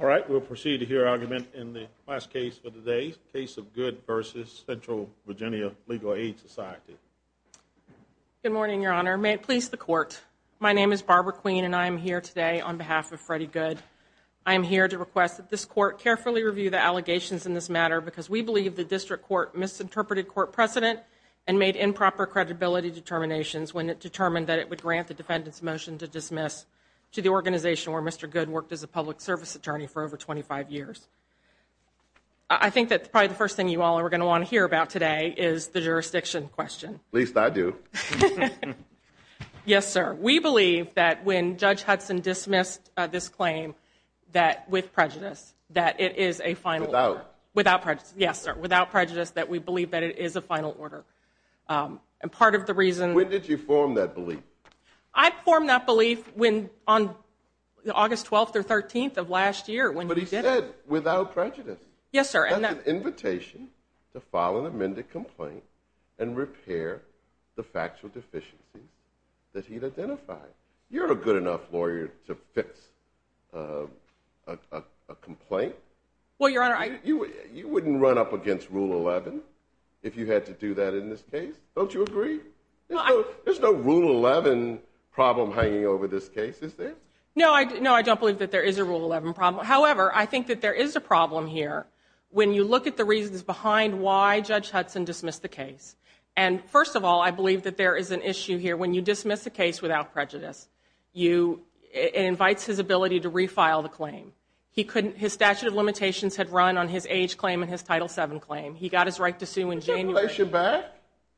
All right, we'll proceed to hear argument in the last case of the day, Case of Goode v. Central VA Legal Aid Society. Good morning, Your Honor. May it please the Court, my name is Barbara Queen and I am here today on behalf of Freddie Goode. I am here to request that this Court carefully review the allegations in this matter because we believe the District Court misinterpreted court precedent and made improper credibility determinations when it determined that it would grant the defendant's motion to dismiss to the organization where Mr. Goode worked as a public service attorney for over 25 years. I think that probably the first thing you all are going to want to hear about today is the jurisdiction question. At least I do. Yes, sir. We believe that when Judge Hudson dismissed this claim with prejudice that it is a final order. Without. Without prejudice. Yes, sir. Without prejudice that we believe that it is a final order. And part of the reason. When did you form that belief? I formed that belief on August 12th or 13th of last year. But he said without prejudice. Yes, sir. That's an invitation to file an amended complaint and repair the factual deficiencies that he'd identified. You're a good enough lawyer to fix a complaint. Well, Your Honor, I. You wouldn't run up against Rule 11 if you had to do that in this case. Don't you agree? There's no Rule 11 problem hanging over this case, is there? No, I don't believe that there is a Rule 11 problem. However, I think that there is a problem here when you look at the reasons behind why Judge Hudson dismissed the case. And first of all, I believe that there is an issue here when you dismiss a case without prejudice. It invites his ability to refile the claim. His statute of limitations had run on his age claim and his Title VII claim. He got his right to sue in January. Can't he place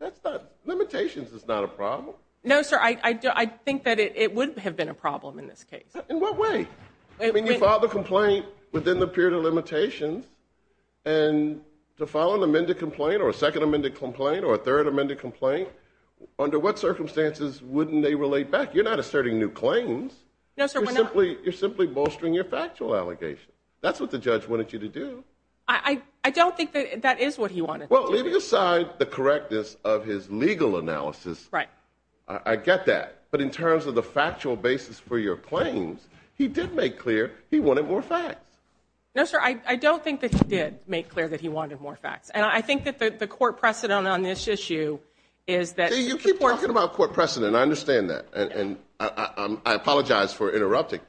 it back? Limitations is not a problem. No, sir. I think that it would have been a problem in this case. In what way? I mean, you filed the complaint within the period of limitations. And to file an amended complaint or a second amended complaint or a third amended complaint, You're not asserting new claims. No, sir. You're simply bolstering your factual allegation. That's what the judge wanted you to do. I don't think that that is what he wanted to do. Well, leaving aside the correctness of his legal analysis, I get that. But in terms of the factual basis for your claims, he did make clear he wanted more facts. No, sir. I don't think that he did make clear that he wanted more facts. And I think that the court precedent on this issue is that You keep talking about court precedent. I understand that. I apologize for interrupting.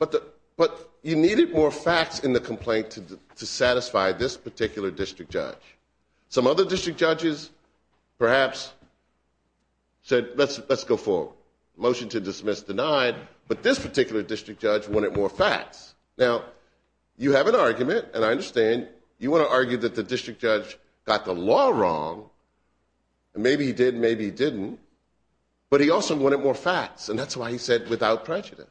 But you needed more facts in the complaint to satisfy this particular district judge. Some other district judges perhaps said, let's go forward. Motion to dismiss denied. But this particular district judge wanted more facts. Now, you have an argument. And I understand you want to argue that the district judge got the law wrong. Maybe he did. Maybe he didn't. But he also wanted more facts. And that's why he said without prejudice.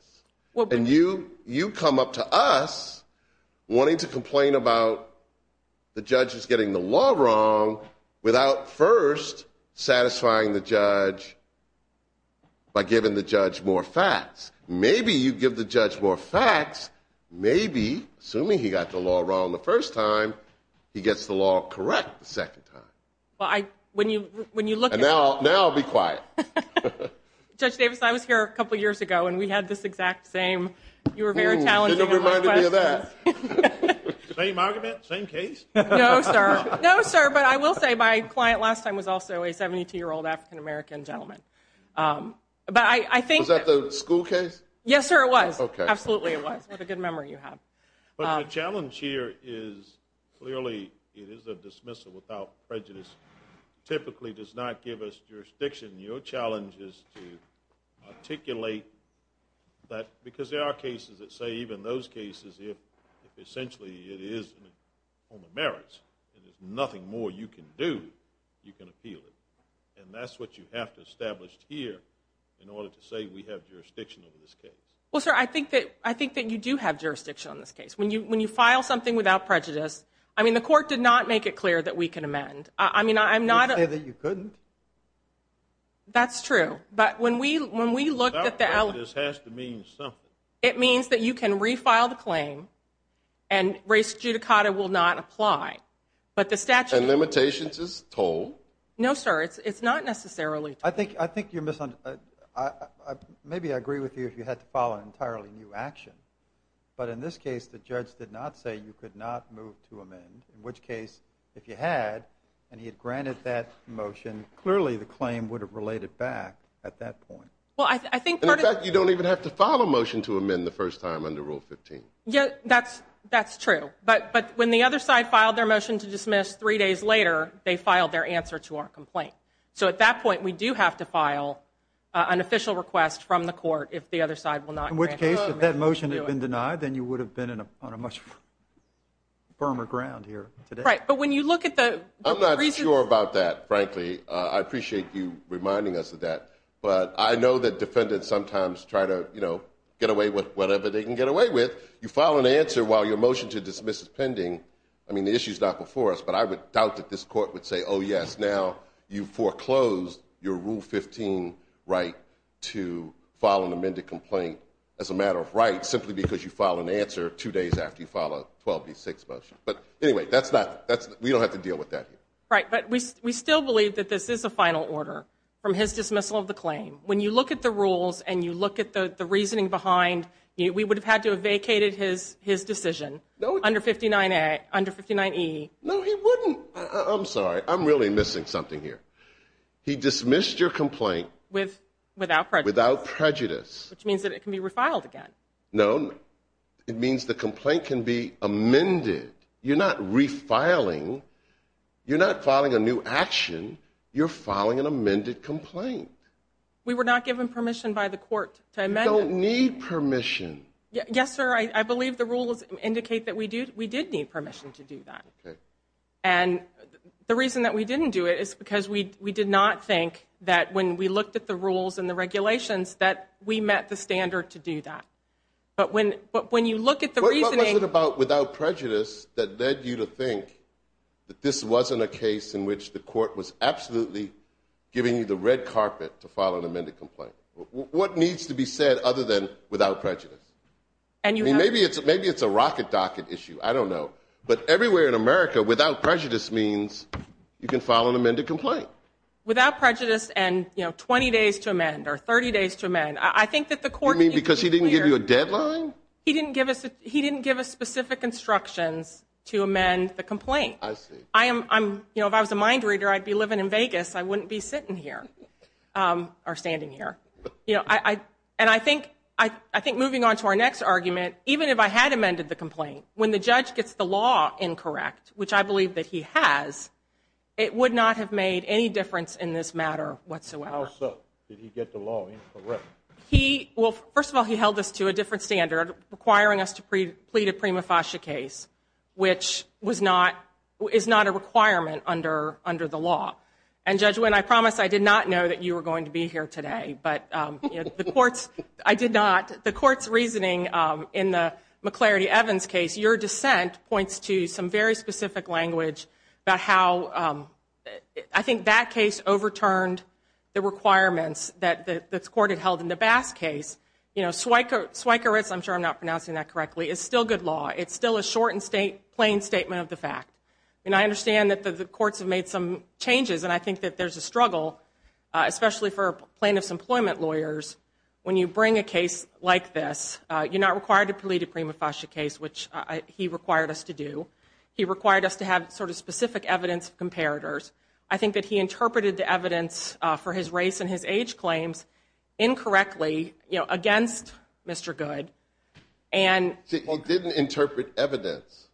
And you come up to us wanting to complain about the judges getting the law wrong without first satisfying the judge by giving the judge more facts. Maybe you give the judge more facts. Maybe, assuming he got the law wrong the first time, he gets the law correct the second time. And now I'll be quiet. Judge Davis, I was here a couple years ago, and we had this exact same. You were very challenging. Same argument? Same case? No, sir. No, sir. But I will say my client last time was also a 72-year-old African-American gentleman. Was that the school case? Yes, sir, it was. Absolutely it was. What a good memory you have. But the challenge here is clearly it is a dismissal without prejudice typically does not give us jurisdiction. Your challenge is to articulate that because there are cases that say even those cases, if essentially it is on the merits and there's nothing more you can do, you can appeal it. And that's what you have to establish here in order to say we have jurisdiction over this case. Well, sir, I think that you do have jurisdiction on this case. When you file something without prejudice, I mean, the court did not make it clear that we can amend. You say that you couldn't? That's true. Without prejudice has to mean something. It means that you can refile the claim and res judicata will not apply. And limitations is toll? No, sir, it's not necessarily toll. I think you're misunderstanding. Maybe I agree with you if you had to file an entirely new action, but in this case the judge did not say you could not move to amend, in which case if you had and he had granted that motion, clearly the claim would have related back at that point. In fact, you don't even have to file a motion to amend the first time under Rule 15. That's true. But when the other side filed their motion to dismiss three days later, they filed their answer to our complaint. So at that point we do have to file an official request from the court if the other side will not grant the motion. In which case if that motion had been denied, then you would have been on a much firmer ground here today. Right. But when you look at the reasons. I'm not sure about that, frankly. I appreciate you reminding us of that. But I know that defendants sometimes try to, you know, get away with whatever they can get away with. You file an answer while your motion to dismiss is pending. I mean, the issue is not before us, but I would doubt that this court would say, oh, yes, now you foreclosed your Rule 15 right to file an amended complaint as a matter of rights simply because you filed an answer two days after you filed a 12B6 motion. But anyway, we don't have to deal with that here. Right. But we still believe that this is a final order from his dismissal of the claim. When you look at the rules and you look at the reasoning behind, we would have had to have vacated his decision under 59E. No, he wouldn't. I'm sorry. I'm really missing something here. He dismissed your complaint. Without prejudice. Without prejudice. Which means that it can be refiled again. No. It means the complaint can be amended. You're not refiling. You're not filing a new action. You're filing an amended complaint. We were not given permission by the court to amend it. You don't need permission. Yes, sir. I believe the rules indicate that we did need permission to do that. Okay. And the reason that we didn't do it is because we did not think that when we looked at the rules and the regulations that we met the standard to do that. But when you look at the reasoning. What was it about without prejudice that led you to think that this wasn't a case in which the court was absolutely giving you the red carpet to file an amended complaint? What needs to be said other than without prejudice? Maybe it's a rocket docket issue. I don't know. But everywhere in America without prejudice means you can file an amended complaint. Without prejudice and, you know, 20 days to amend or 30 days to amend. I think that the court. You mean because he didn't give you a deadline? He didn't give us specific instructions to amend the complaint. I see. You know, if I was a mind reader, I'd be living in Vegas. I wouldn't be sitting here or standing here. And I think moving on to our next argument, even if I had amended the complaint, when the judge gets the law incorrect, which I believe that he has, it would not have made any difference in this matter whatsoever. How so? Did he get the law incorrect? Well, first of all, he held us to a different standard, requiring us to plead a prima facie case, which is not a requirement under the law. And, Judge Winn, I promise I did not know that you were going to be here today. But the court's reasoning in the McLarity-Evans case, your dissent points to some very specific language about how I think that case overturned the requirements that the court had held in the Bass case. You know, swikeritz, I'm sure I'm not pronouncing that correctly, is still good law. It's still a short and plain statement of the fact. And I understand that the courts have made some changes, and I think that there's a struggle, especially for plaintiff's employment lawyers, when you bring a case like this, you're not required to plead a prima facie case, which he required us to do. He required us to have sort of specific evidence of comparators. I think that he interpreted the evidence for his race and his age claims incorrectly, you know, against Mr. Goode. See, he didn't interpret evidence.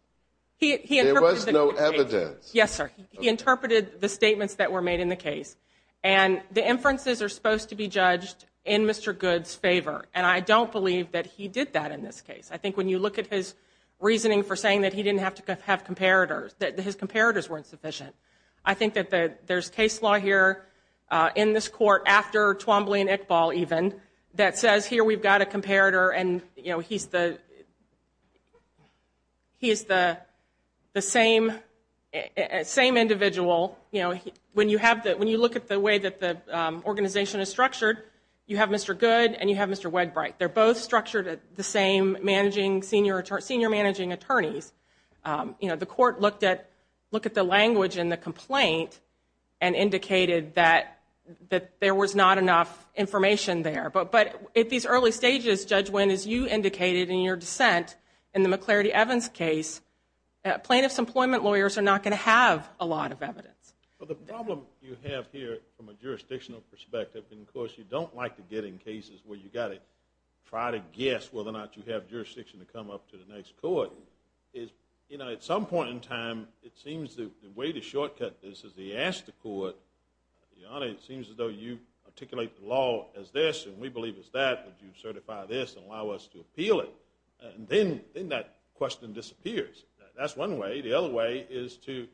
There was no evidence. Yes, sir. He interpreted the statements that were made in the case. And the inferences are supposed to be judged in Mr. Goode's favor, and I don't believe that he did that in this case. I think when you look at his reasoning for saying that he didn't have to have comparators, that his comparators weren't sufficient. I think that there's case law here in this court, after Twombly and Iqbal even, that says here we've got a comparator, and, you know, he's the same individual. When you look at the way that the organization is structured, you have Mr. Goode and you have Mr. Wedbright. They're both structured at the same senior managing attorneys. You know, the court looked at the language in the complaint and indicated that there was not enough information there. But at these early stages, Judge Winn, as you indicated in your dissent in the McClarity-Evans case, plaintiff's employment lawyers are not going to have a lot of evidence. Well, the problem you have here from a jurisdictional perspective, and of course you don't like to get in cases where you've got to try to guess whether or not you have jurisdiction to come up to the next court, is, you know, at some point in time, it seems the way to shortcut this is to ask the court, Your Honor, it seems as though you articulate the law as this and we believe it's that. Would you certify this and allow us to appeal it? And then that question disappears. That's one way. The other way is to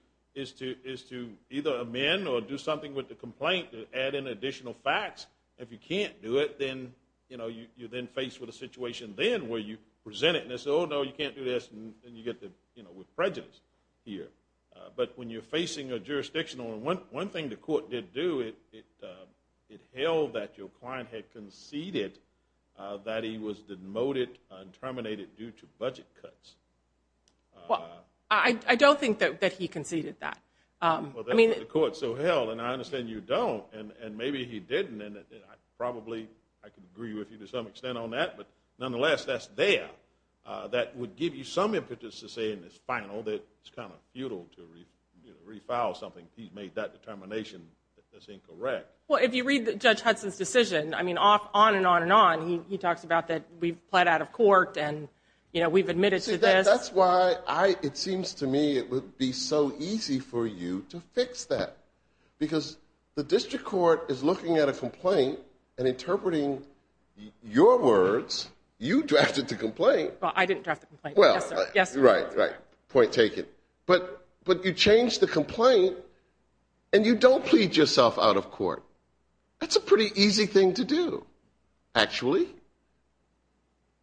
either amend or do something with the complaint to add in additional facts. If you can't do it, then, you know, you're then faced with a situation then where you present it, and they say, oh, no, you can't do this, and you get the prejudice here. But when you're facing a jurisdictional, and one thing the court did do, it held that your client had conceded that he was demoted and terminated due to budget cuts. Well, I don't think that he conceded that. Well, that's what the court so held, and I understand you don't, and maybe he didn't, and probably I could agree with you to some extent on that, but nonetheless, that's there. That would give you some impetus to say in this final that it's kind of futile to refile something. He's made that determination that's incorrect. Well, if you read Judge Hudson's decision, I mean, on and on and on, he talks about that we've pled out of court and, you know, we've admitted to this. See, that's why it seems to me it would be so easy for you to fix that because the district court is looking at a complaint and interpreting your words. You drafted the complaint. Well, I didn't draft the complaint. Well, right, right. Point taken. But you change the complaint and you don't plead yourself out of court. That's a pretty easy thing to do, actually.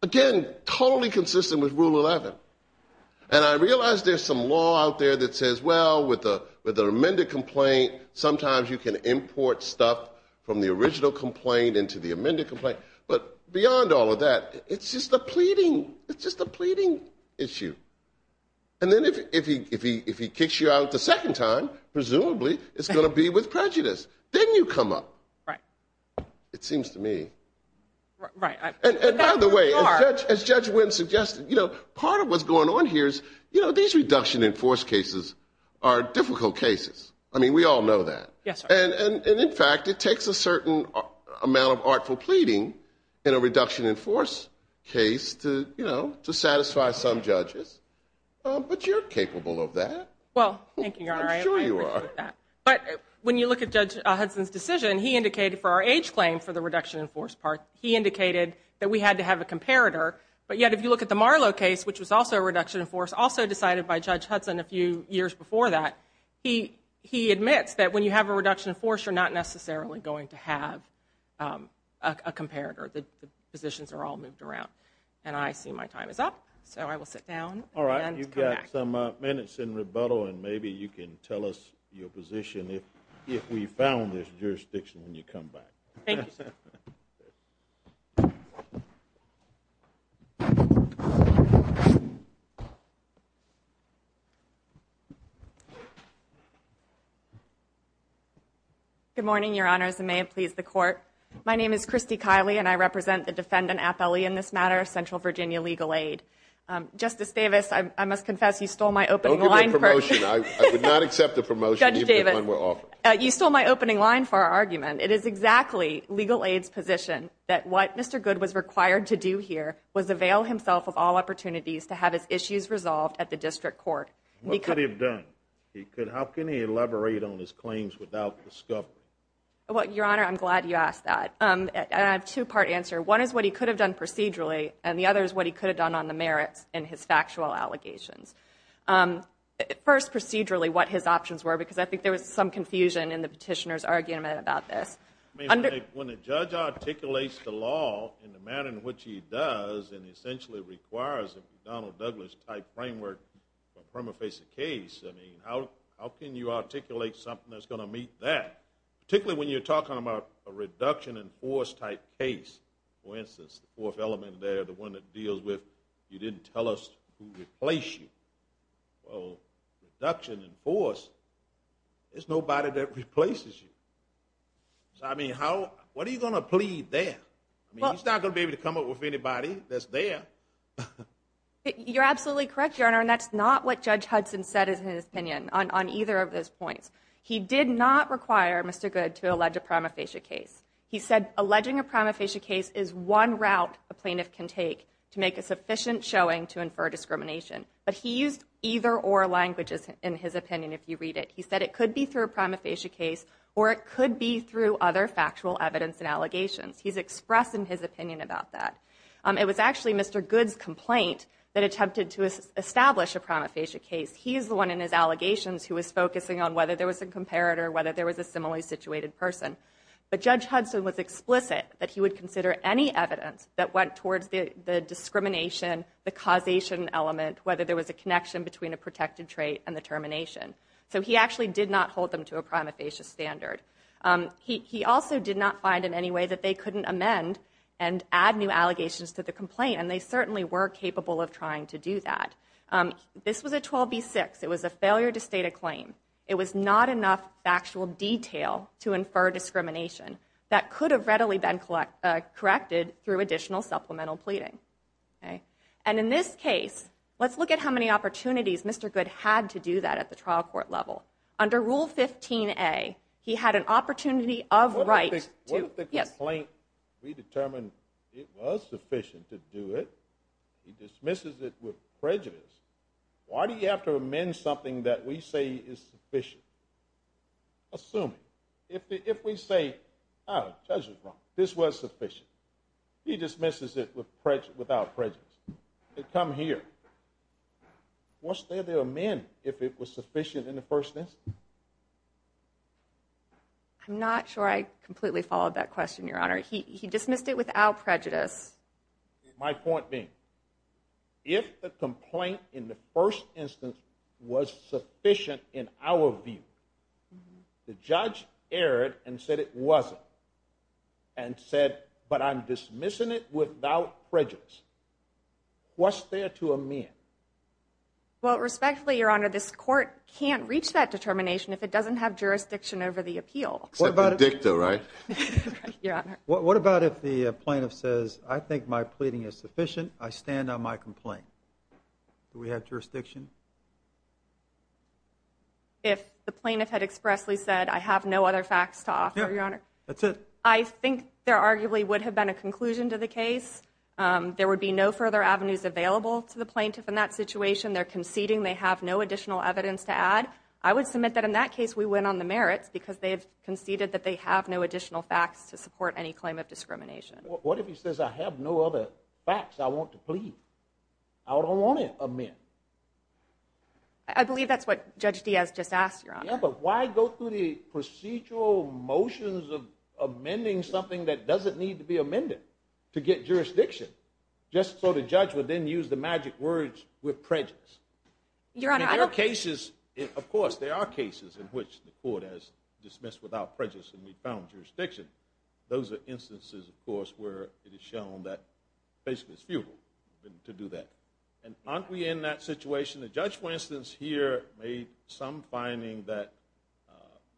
Again, totally consistent with Rule 11, and I realize there's some law out there that says, well, with an amended complaint, sometimes you can import stuff from the original complaint into the amended complaint, but beyond all of that, it's just a pleading issue. And then if he kicks you out the second time, presumably it's going to be with prejudice. Then you come up. Right. It seems to me. Right. And by the way, as Judge Wynn suggested, you know, part of what's going on here is, you know, these reduction in force cases are difficult cases. I mean, we all know that. Yes, sir. And, in fact, it takes a certain amount of artful pleading in a reduction in force case to, you know, to satisfy some judges, but you're capable of that. Well, thank you, Your Honor. I appreciate that. I'm sure you are. But when you look at Judge Hudson's decision, he indicated for our age claim for the reduction in force part, he indicated that we had to have a comparator, but yet if you look at the Marlow case, which was also a reduction in force, also decided by Judge Hudson a few years before that, he admits that when you have a reduction in force, you're not necessarily going to have a comparator. The positions are all moved around. And I see my time is up, so I will sit down and come back. All right. You've got some minutes in rebuttal, and maybe you can tell us your position if we found this jurisdiction and you come back. Thank you, sir. Good morning, Your Honors, and may it please the Court. My name is Christy Kiley, and I represent the defendant, Appellee in this matter, Central Virginia Legal Aid. Justice Davis, I must confess you stole my opening line. Don't give me a promotion. I would not accept a promotion even if one were offered. Judge Davis, you stole my opening line for our argument. It is exactly Legal Aid's position that what Mr. Good was required to do here was avail himself of all opportunities to have his issues resolved at the District Court. What could he have done? How can he elaborate on his claims without discovery? Your Honor, I'm glad you asked that. I have a two-part answer. One is what he could have done procedurally, and the other is what he could have done on the merits and his factual allegations. First, procedurally, what his options were, because I think there was some confusion in the petitioner's argument about this. When a judge articulates the law in the manner in which he does and essentially requires a McDonnell-Douglas-type framework from a face-to-face case, how can you articulate something that's going to meet that? Particularly when you're talking about a reduction-in-force-type case. For instance, the fourth element there, the one that deals with you didn't tell us who replaced you. Well, reduction-in-force, there's nobody that replaces you. What are you going to plead there? He's not going to be able to come up with anybody that's there. You're absolutely correct, Your Honor, and that's not what Judge Hudson said in his opinion on either of those points. He did not require Mr. Goode to allege a prima facie case. He said alleging a prima facie case is one route a plaintiff can take to make a sufficient showing to infer discrimination. But he used either-or languages in his opinion, if you read it. He said it could be through a prima facie case or it could be through other factual evidence and allegations. He's expressing his opinion about that. It was actually Mr. Goode's complaint that attempted to establish a prima facie case. He is the one in his allegations who was focusing on whether there was a comparator, whether there was a similarly situated person. But Judge Hudson was explicit that he would consider any evidence that went towards the discrimination, the causation element, whether there was a connection between a protected trait and the termination. So he actually did not hold them to a prima facie standard. He also did not find in any way that they couldn't amend and add new allegations to the complaint, and they certainly were capable of trying to do that. This was a 12b-6. It was a failure to state a claim. It was not enough factual detail to infer discrimination that could have readily been corrected through additional supplemental pleading. And in this case, let's look at how many opportunities Mr. Goode had to do that at the trial court level. Under Rule 15a, he had an opportunity of right to- to determine it was sufficient to do it. He dismisses it with prejudice. Why do you have to amend something that we say is sufficient? Assuming. If we say, oh, the judge was wrong. This was sufficient. He dismisses it without prejudice. Come here. What's there to amend if it was sufficient in the first instance? I'm not sure I completely followed that question, Your Honor. He dismissed it without prejudice. My point being, if the complaint in the first instance was sufficient in our view, the judge erred and said it wasn't and said, but I'm dismissing it without prejudice. What's there to amend? Well, respectfully, Your Honor, this court can't reach that determination if it doesn't have jurisdiction over the appeal. Except the dicta, right? Right, Your Honor. What about if the plaintiff says, I think my pleading is sufficient. I stand on my complaint. Do we have jurisdiction? If the plaintiff had expressly said, I have no other facts to offer, Your Honor. Yeah, that's it. I think there arguably would have been a conclusion to the case. There would be no further avenues available to the plaintiff in that situation. They're conceding. They have no additional evidence to add. I would submit that in that case, we went on the merits because they have conceded that they have no additional facts to support any claim of discrimination. What if he says, I have no other facts I want to plead? I don't want to amend. I believe that's what Judge Diaz just asked, Your Honor. Yeah, but why go through the procedural motions of amending something that doesn't need to be amended to get jurisdiction, just so the judge would then use the magic words with prejudice? Of course, there are cases in which the court has dismissed without prejudice and we found jurisdiction. Those are instances, of course, where it is shown that basically it's futile to do that. Aren't we in that situation? The judge, for instance, here made some finding that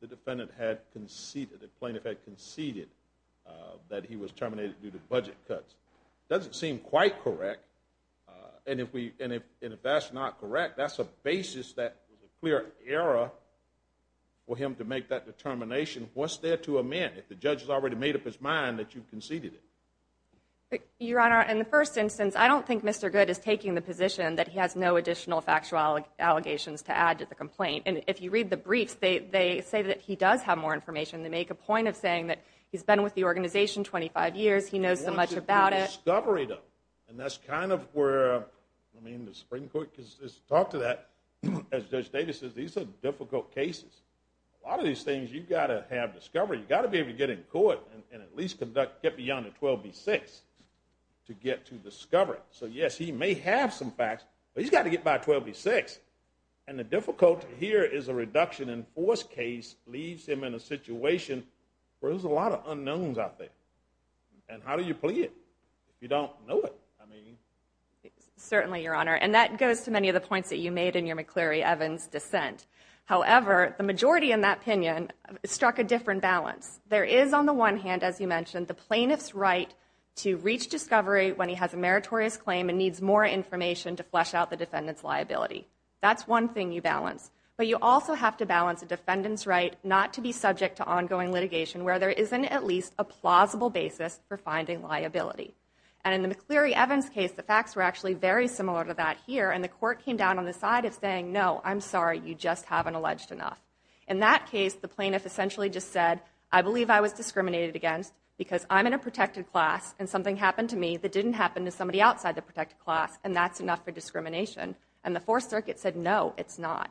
the defendant had conceded, the plaintiff had conceded that he was terminated due to budget cuts. It doesn't seem quite correct. If that's not correct, that's a basis that was a clear error for him to make that determination. What's there to amend? If the judge has already made up his mind that you've conceded it. Your Honor, in the first instance, I don't think Mr. Goode is taking the position that he has no additional factual allegations to add to the complaint. If you read the briefs, they say that he does have more information. They make a point of saying that he's been with the organization 25 years, he knows so much about it. And that's kind of where, I mean, the Supreme Court has talked to that. As Judge Davis says, these are difficult cases. A lot of these things you've got to have discovery. You've got to be able to get in court and at least get beyond a 12B6 to get to discovery. So, yes, he may have some facts, but he's got to get by a 12B6. And the difficulty here is a reduction in force case leaves him in a situation where there's a lot of unknowns out there. And how do you plead if you don't know it? Certainly, Your Honor, and that goes to many of the points that you made in your McCleary-Evans dissent. However, the majority in that opinion struck a different balance. There is, on the one hand, as you mentioned, the plaintiff's right to reach discovery when he has a meritorious claim and needs more information to flesh out the defendant's liability. That's one thing you balance. But you also have to balance a defendant's right not to be subject to ongoing litigation where there isn't at least a plausible basis for finding liability. And in the McCleary-Evans case, the facts were actually very similar to that here, and the court came down on the side of saying, no, I'm sorry, you just haven't alleged enough. In that case, the plaintiff essentially just said, I believe I was discriminated against because I'm in a protected class and something happened to me that didn't happen to somebody outside the protected class, and that's enough for discrimination. And the Fourth Circuit said, no, it's not.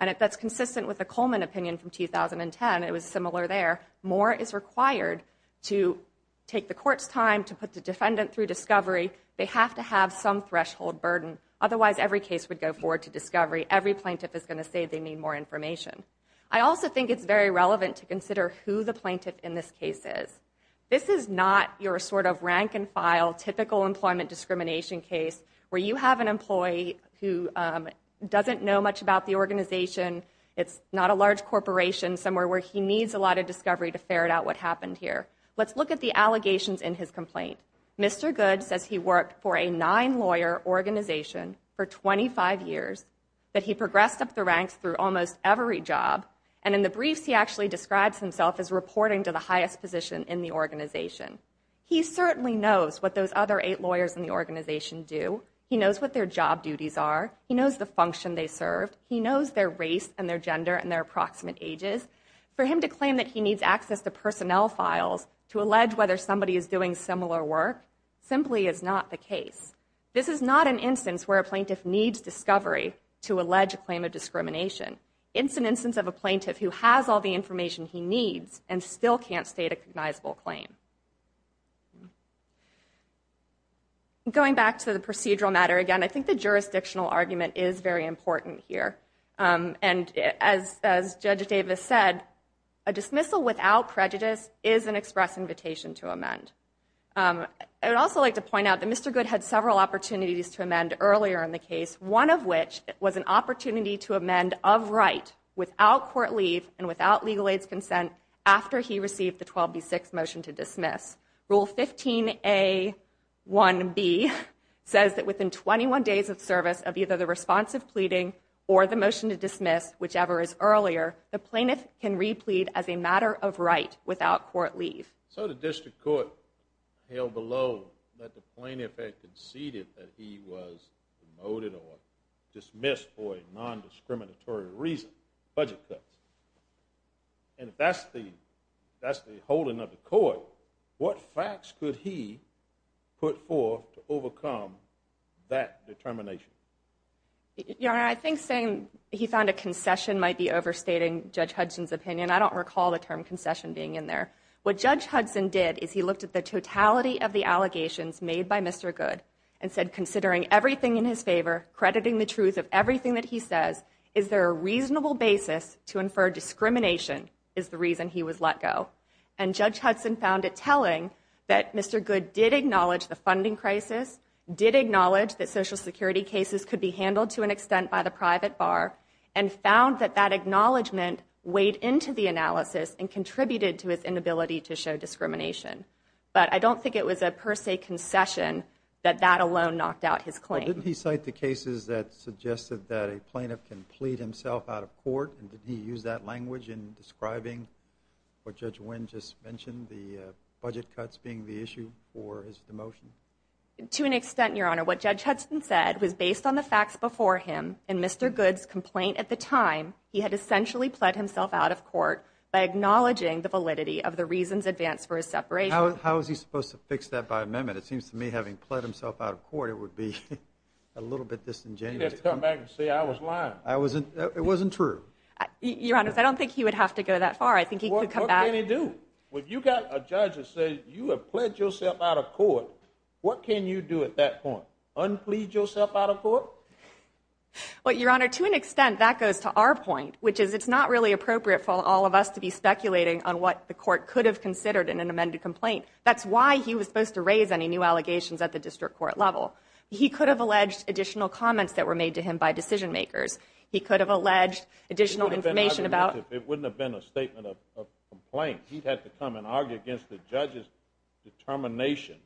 And that's consistent with the Coleman opinion from 2010. It was similar there. More is required to take the court's time to put the defendant through discovery. They have to have some threshold burden. Otherwise, every case would go forward to discovery. Every plaintiff is going to say they need more information. I also think it's very relevant to consider who the plaintiff in this case is. This is not your sort of rank-and-file, typical employment discrimination case where you have an employee who doesn't know much about the organization. It's not a large corporation, somewhere where he needs a lot of discovery to ferret out what happened here. Let's look at the allegations in his complaint. Mr. Goode says he worked for a nine-lawyer organization for 25 years, that he progressed up the ranks through almost every job, and in the briefs he actually describes himself as reporting to the highest position in the organization. He certainly knows what those other eight lawyers in the organization do. He knows what their job duties are. He knows the function they serve. He knows their race and their gender and their approximate ages. For him to claim that he needs access to personnel files to allege whether somebody is doing similar work simply is not the case. This is not an instance where a plaintiff needs discovery to allege a claim of discrimination. It's an instance of a plaintiff who has all the information he needs and still can't state a cognizable claim. Going back to the procedural matter again, I think the jurisdictional argument is very important here. And as Judge Davis said, a dismissal without prejudice is an express invitation to amend. I would also like to point out that Mr. Goode had several opportunities to amend earlier in the case, one of which was an opportunity to amend of right without court leave and without legal aid's consent after he received the 12B6 motion to dismiss. Rule 15A1B says that within 21 days of service of either the response of pleading or the motion to dismiss, whichever is earlier, the plaintiff can re-plead as a matter of right without court leave. So the district court held below that the plaintiff had conceded that he was demoted or dismissed for a non-discriminatory reason, budget cuts. And if that's the holding of the court, what facts could he put forth to overcome that determination? Your Honor, I think saying he found a concession might be overstating Judge Hudson's opinion. I don't recall the term concession being in there. What Judge Hudson did is he looked at the totality of the allegations made by Mr. Goode and said, considering everything in his favor, crediting the truth of everything that he says, is there a reasonable basis to infer discrimination is the reason he was let go? And Judge Hudson found it telling that Mr. Goode did acknowledge the funding crisis, did acknowledge that Social Security cases could be handled to an extent by the private bar, and found that that acknowledgment weighed into the analysis and contributed to his inability to show discrimination. But I don't think it was a per se concession that that alone knocked out his claim. Didn't he cite the cases that suggested that a plaintiff can plead himself out of court, and did he use that language in describing what Judge Wynn just mentioned, the budget cuts being the issue for his demotion? To an extent, Your Honor. What Judge Hudson said was based on the facts before him in Mr. Goode's complaint at the time he had essentially pled himself out of court by acknowledging the validity of the reasons advanced for his separation. How is he supposed to fix that by amendment? It seems to me having pled himself out of court would be a little bit disingenuous. He'd have to come back and say, I was lying. It wasn't true. Your Honor, I don't think he would have to go that far. I think he could come back. What can he do? When you've got a judge that says, you have pled yourself out of court, what can you do at that point? Unplead yourself out of court? Well, Your Honor, to an extent, that goes to our point, which is it's not really appropriate for all of us to be speculating on what the court could have considered in an amended complaint. That's why he was supposed to raise any new allegations at the district court level. He could have alleged additional comments that were made to him by decision makers. He could have alleged additional information about... It wouldn't have been a statement of complaint. He'd have to come and argue against the judge's determination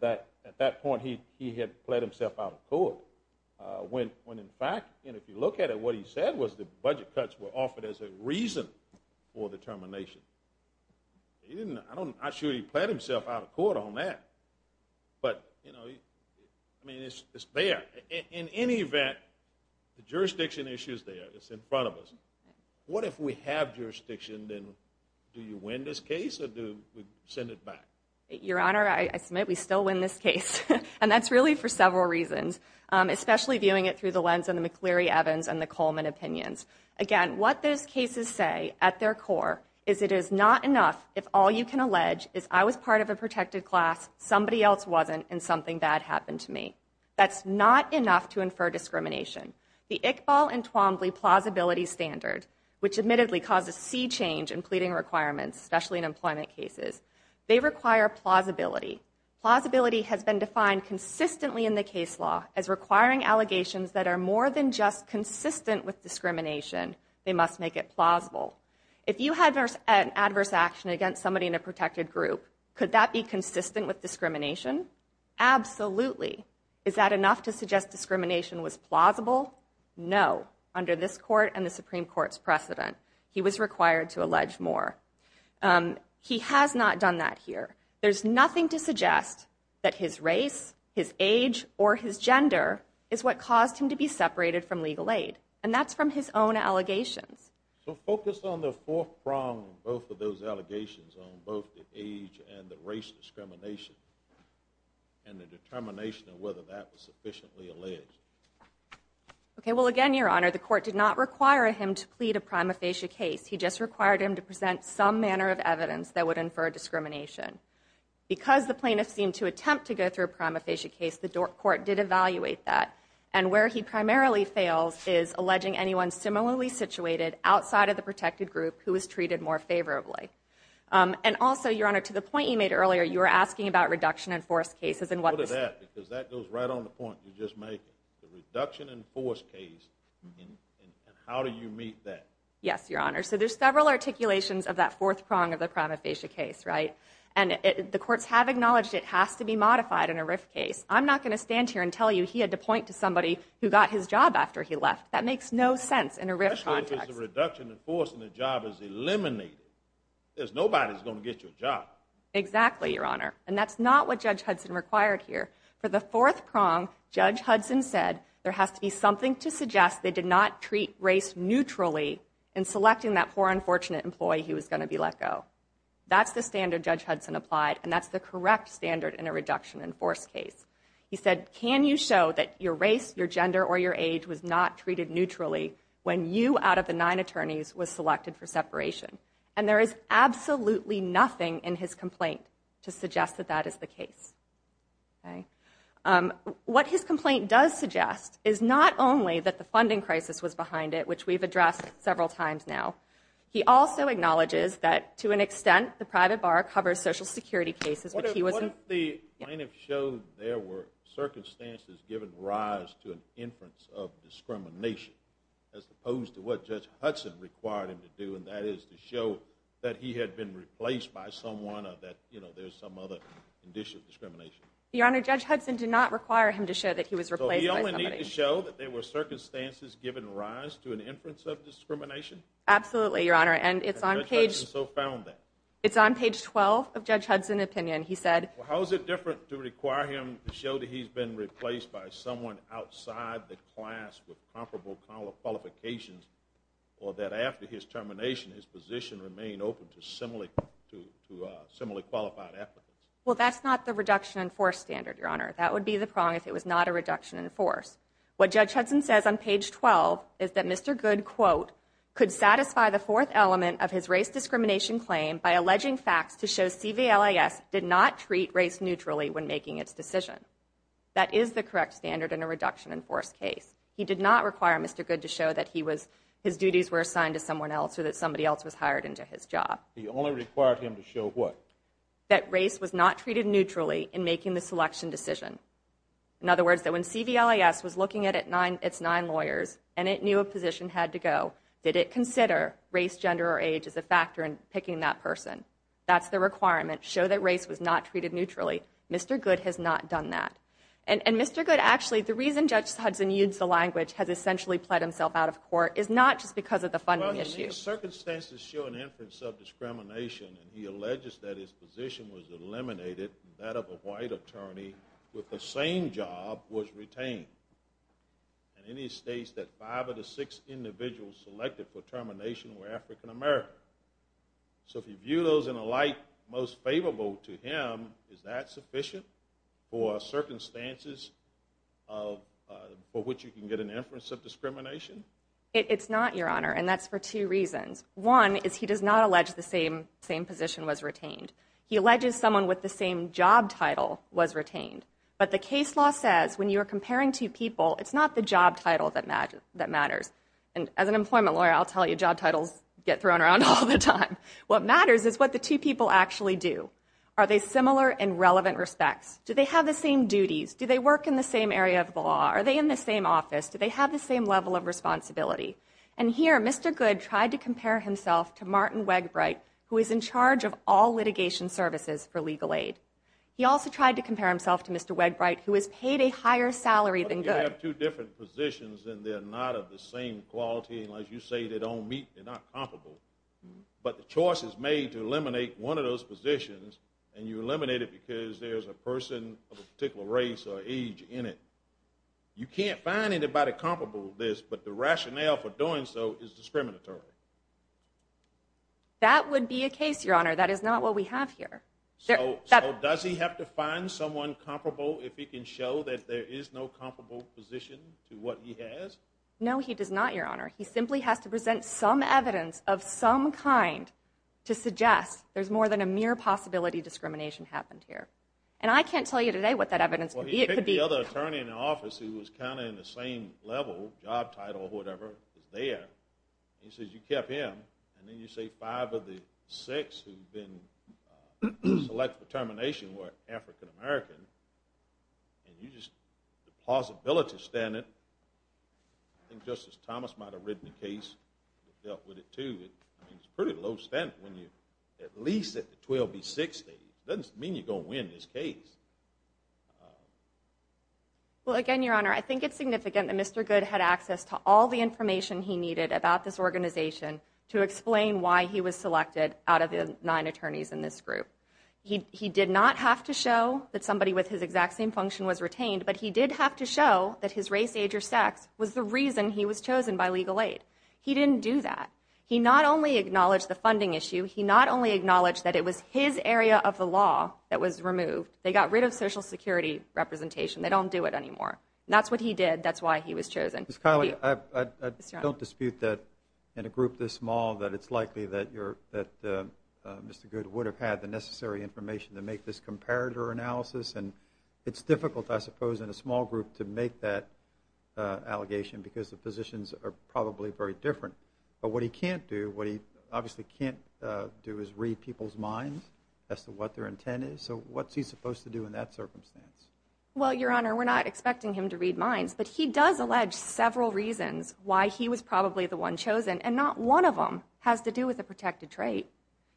that at that point he had pled himself out of court, when in fact, if you look at it, what he said was the budget cuts were offered as a reason for determination. I'm not sure he pled himself out of court on that. But, you know, I mean, it's there. In any event, the jurisdiction issue is there. It's in front of us. What if we have jurisdiction, then do you win this case or do we send it back? Your Honor, I submit we still win this case. And that's really for several reasons, especially viewing it through the lens of the McCleary-Evans and the Coleman opinions. Again, what those cases say at their core is it is not enough if all you can allege is I was part of a protected class, somebody else wasn't, and something bad happened to me. That's not enough to infer discrimination. The Iqbal and Twombly plausibility standard, which admittedly causes sea change in pleading requirements, especially in employment cases, they require plausibility. Plausibility has been defined consistently in the case law as requiring allegations that are more than just consistent with discrimination. They must make it plausible. If you had an adverse action against somebody in a protected group, could that be consistent with discrimination? Absolutely. Is that enough to suggest discrimination was plausible? No, under this Court and the Supreme Court's precedent. He was required to allege more. He has not done that here. There's nothing to suggest that his race, his age, or his gender is what caused him to be separated from legal aid, and that's from his own allegations. So focus on the fourth prong of both of those allegations, on both the age and the race discrimination, and the determination of whether that was sufficiently alleged. Okay, well, again, Your Honor, the Court did not require him to plead a prima facie case. He just required him to present some manner of evidence that would infer discrimination. Because the plaintiff seemed to attempt to go through a prima facie case, the court did evaluate that, and where he primarily fails is alleging anyone similarly situated outside of the protected group who is treated more favorably. And also, Your Honor, to the point you made earlier, you were asking about reduction-in-force cases. Look at that, because that goes right on the point you just made. The reduction-in-force case, and how do you meet that? Yes, Your Honor, so there's several articulations of that fourth prong of the prima facie case, right? And the courts have acknowledged it has to be modified in a RIF case. I'm not going to stand here and tell you that he had to point to somebody who got his job after he left. That makes no sense in a RIF context. Especially if it's a reduction-in-force and the job is eliminated. Nobody's going to get you a job. Exactly, Your Honor, and that's not what Judge Hudson required here. For the fourth prong, Judge Hudson said there has to be something to suggest they did not treat race neutrally in selecting that poor, unfortunate employee he was going to be let go. That's the standard Judge Hudson applied, and that's the correct standard in a reduction-in-force case. He said, can you show that your race, your gender, or your age was not treated neutrally when you, out of the nine attorneys, was selected for separation? And there is absolutely nothing in his complaint to suggest that that is the case. What his complaint does suggest is not only that the funding crisis was behind it, which we've addressed several times now. He also acknowledges that, to an extent, the private bar covers Social Security cases, but he wasn't... What if the plaintiff showed there were circumstances giving rise to an inference of discrimination, as opposed to what Judge Hudson required him to do, and that is to show that he had been replaced by someone or that there's some other condition of discrimination? Your Honor, Judge Hudson did not require him to show that he was replaced by somebody. So we only need to show that there were circumstances giving rise to an inference of discrimination? Absolutely, Your Honor, and it's on page... And Judge Hudson so found that. It's on page 12 of Judge Hudson's opinion. He said... Well, how is it different to require him to show that he's been replaced by someone outside the class with comparable qualifications or that after his termination, his position remained open to similarly qualified applicants? Well, that's not the reduction in force standard, Your Honor. That would be the prong if it was not a reduction in force. What Judge Hudson says on page 12 is that Mr. Good, quote, by alleging facts to show CVLIS did not treat race neutrally when making its decision. That is the correct standard in a reduction in force case. He did not require Mr. Good to show that his duties were assigned to someone else or that somebody else was hired into his job. He only required him to show what? That race was not treated neutrally in making the selection decision. In other words, that when CVLIS was looking at its nine lawyers and it knew a position had to go, did it consider race, gender, or age as a factor in picking that person? That's the requirement. Show that race was not treated neutrally. Mr. Good has not done that. And Mr. Good, actually, the reason Judge Hudson used the language has essentially pled himself out of court is not just because of the funding issue. Well, the circumstances show an inference of discrimination, and he alleges that his position was eliminated, and that of a white attorney with the same job was retained. And then he states that five of the six individuals selected for termination were African-American. So if you view those in a light most favorable to him, is that sufficient for circumstances for which you can get an inference of discrimination? It's not, Your Honor, and that's for two reasons. One is he does not allege the same position was retained. He alleges someone with the same job title was retained. But the case law says when you are comparing two people, it's not the job title that matters. And as an employment lawyer, I'll tell you, job titles get thrown around all the time. What matters is what the two people actually do. Are they similar in relevant respects? Do they have the same duties? Do they work in the same area of the law? Are they in the same office? Do they have the same level of responsibility? And here Mr. Good tried to compare himself to Martin Wegbright, who is in charge of all litigation services for legal aid. He also tried to compare himself to Mr. Wegbright, who is paid a higher salary than Good. If you have two different positions and they're not of the same quality, unless you say they don't meet, they're not comparable, but the choice is made to eliminate one of those positions and you eliminate it because there's a person of a particular race or age in it, you can't find anybody comparable to this, but the rationale for doing so is discriminatory. That would be a case, Your Honor. That is not what we have here. So does he have to find someone comparable if he can show that there is no comparable position to what he has? No, he does not, Your Honor. He simply has to present some evidence of some kind to suggest there's more than a mere possibility discrimination happened here. And I can't tell you today what that evidence could be. Well, he picked the other attorney in the office who was kind of in the same level, job title or whatever, is there, and he says you kept him, and then you say five of the six who've been selected for termination were African-American, and you just, the plausibility standard, I think Justice Thomas might have written a case that dealt with it, too. It's a pretty low standard when you're at least at the 12B60. It doesn't mean you're going to win this case. Well, again, Your Honor, I think it's significant that Mr. Goode had access to all the information he needed about this organization to explain why he was selected out of the nine attorneys in this group. He did not have to show that somebody with his exact same function was retained, but he did have to show that his race, age, or sex was the reason he was chosen by legal aid. He didn't do that. He not only acknowledged the funding issue. He not only acknowledged that it was his area of the law that was removed. They got rid of Social Security representation. They don't do it anymore. And that's what he did. That's why he was chosen. Ms. Kiley, I don't dispute that in a group this small that it's likely that Mr. Goode would have had the necessary information to make this comparator analysis, and it's difficult, I suppose, in a small group to make that allegation because the positions are probably very different. But what he can't do, what he obviously can't do is read people's minds as to what their intent is. So what's he supposed to do in that circumstance? Well, Your Honor, we're not expecting him to read minds, but he does allege several reasons why he was probably the one chosen, and not one of them has to do with a protected trait.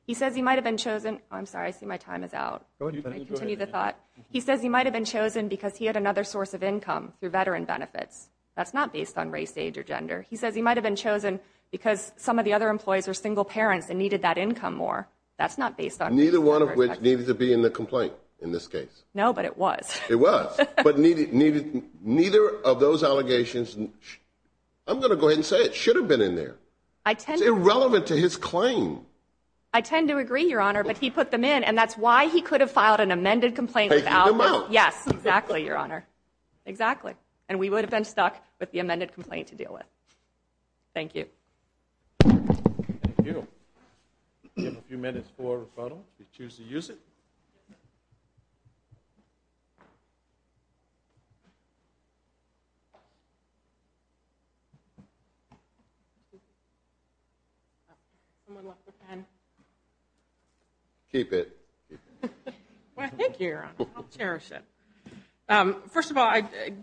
He says he might have been chosen. I'm sorry, I see my time is out. Continue the thought. He says he might have been chosen because he had another source of income through veteran benefits. That's not based on race, age, or gender. He says he might have been chosen because some of the other employees were single parents and needed that income more. That's not based on race or gender. Neither one of which needed to be in the complaint in this case. No, but it was. It was. But neither of those allegations, I'm going to go ahead and say it, should have been in there. It's irrelevant to his claim. I tend to agree, Your Honor, but he put them in, and that's why he could have filed an amended complaint without. Yes, exactly, Your Honor. Exactly. And we would have been stuck with the amended complaint to deal with. Thank you. Thank you. We have a few minutes for a rebuttal if you choose to use it. Someone left their pen. Keep it. Well, thank you, Your Honor. I'll cherish it. First of all,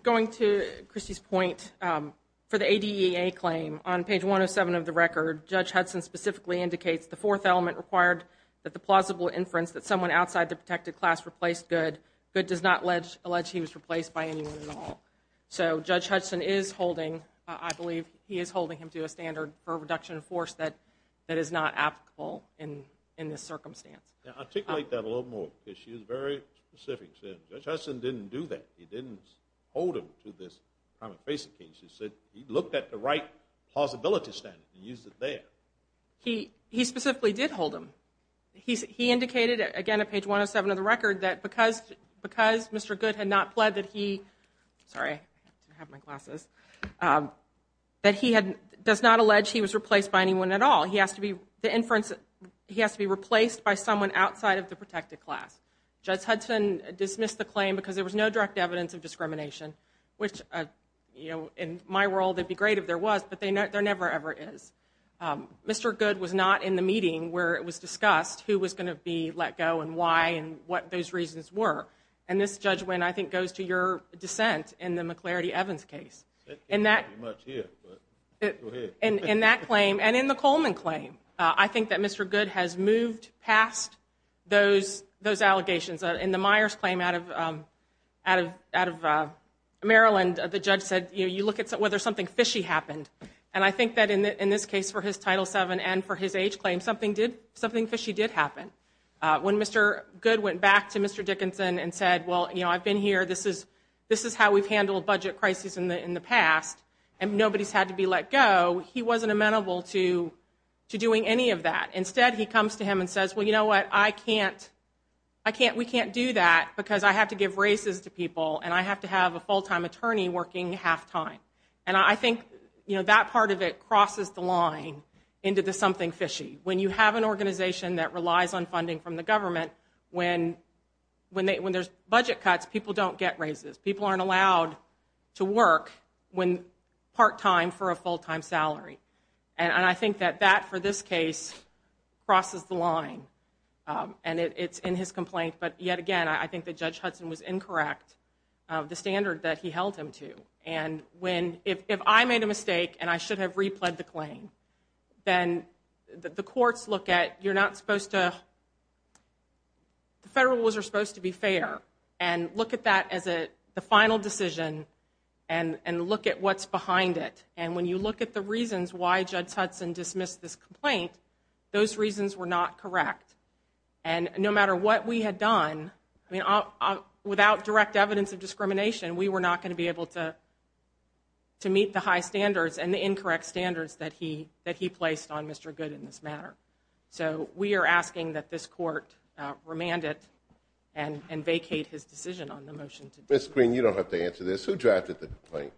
going to Christy's point, for the ADEA claim, on page 107 of the record, Judge Hudson specifically indicates the fourth element required that the plausible inference that someone outside the protected class replaced Good, Good does not allege he was replaced by anyone at all. So Judge Hudson is holding, I believe he is holding him to a standard for reduction of force that is not applicable in this circumstance. Now, articulate that a little more because she is very specific. Judge Hudson didn't do that. He didn't hold him to this kind of basic case. He said he looked at the right plausibility standard and used it there. He specifically did hold him. He indicated, again, on page 107 of the record, that because Mr. Good had not pled that he Sorry, I didn't have my glasses. That he does not allege he was replaced by anyone at all. He has to be replaced by someone outside of the protected class. Judge Hudson dismissed the claim because there was no direct evidence of discrimination, which in my world, it would be great if there was, but there never, ever is. Mr. Good was not in the meeting where it was discussed who was going to be let go and why and what those reasons were. And this, Judge Winn, I think goes to your dissent in the McLarity-Evans case. That can't be much here, but go ahead. In that claim and in the Coleman claim, I think that Mr. Good has moved past those allegations. In the Myers claim out of Maryland, the judge said, you know, you look at whether something fishy happened. And I think that in this case for his Title VII and for his age claim, something fishy did happen. When Mr. Good went back to Mr. Dickinson and said, well, you know, I've been here, this is how we've handled budget crises in the past, and nobody's had to be let go, he wasn't amenable to doing any of that. Instead, he comes to him and says, well, you know what, I can't, I can't, we can't do that because I have to give races to people and I have to have a full-time attorney working half-time. And I think, you know, that part of it crosses the line into the something fishy. When you have an organization that relies on funding from the government, when there's budget cuts, people don't get races. People aren't allowed to work part-time for a full-time salary. And I think that that, for this case, crosses the line, and it's in his complaint. But yet again, I think that Judge Hudson was incorrect, the standard that he held him to. If I made a mistake and I should have repled the claim, then the courts look at, you're not supposed to, the federal rules are supposed to be fair, and look at that as the final decision and look at what's behind it. And when you look at the reasons why Judge Hudson dismissed this complaint, those reasons were not correct. We were not going to be able to meet the high standards and the incorrect standards that he placed on Mr. Good in this matter. So we are asking that this court remand it and vacate his decision on the motion. Ms. Green, you don't have to answer this. Who drafted the complaint?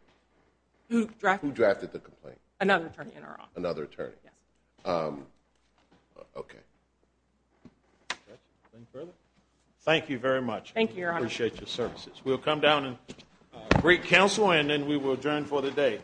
Who drafted the complaint? Another attorney in our office. Another attorney. Yes. Okay. Any further? Thank you very much. Thank you, Your Honor. We appreciate your services. We'll come down and greet counsel and then we will adjourn for the day.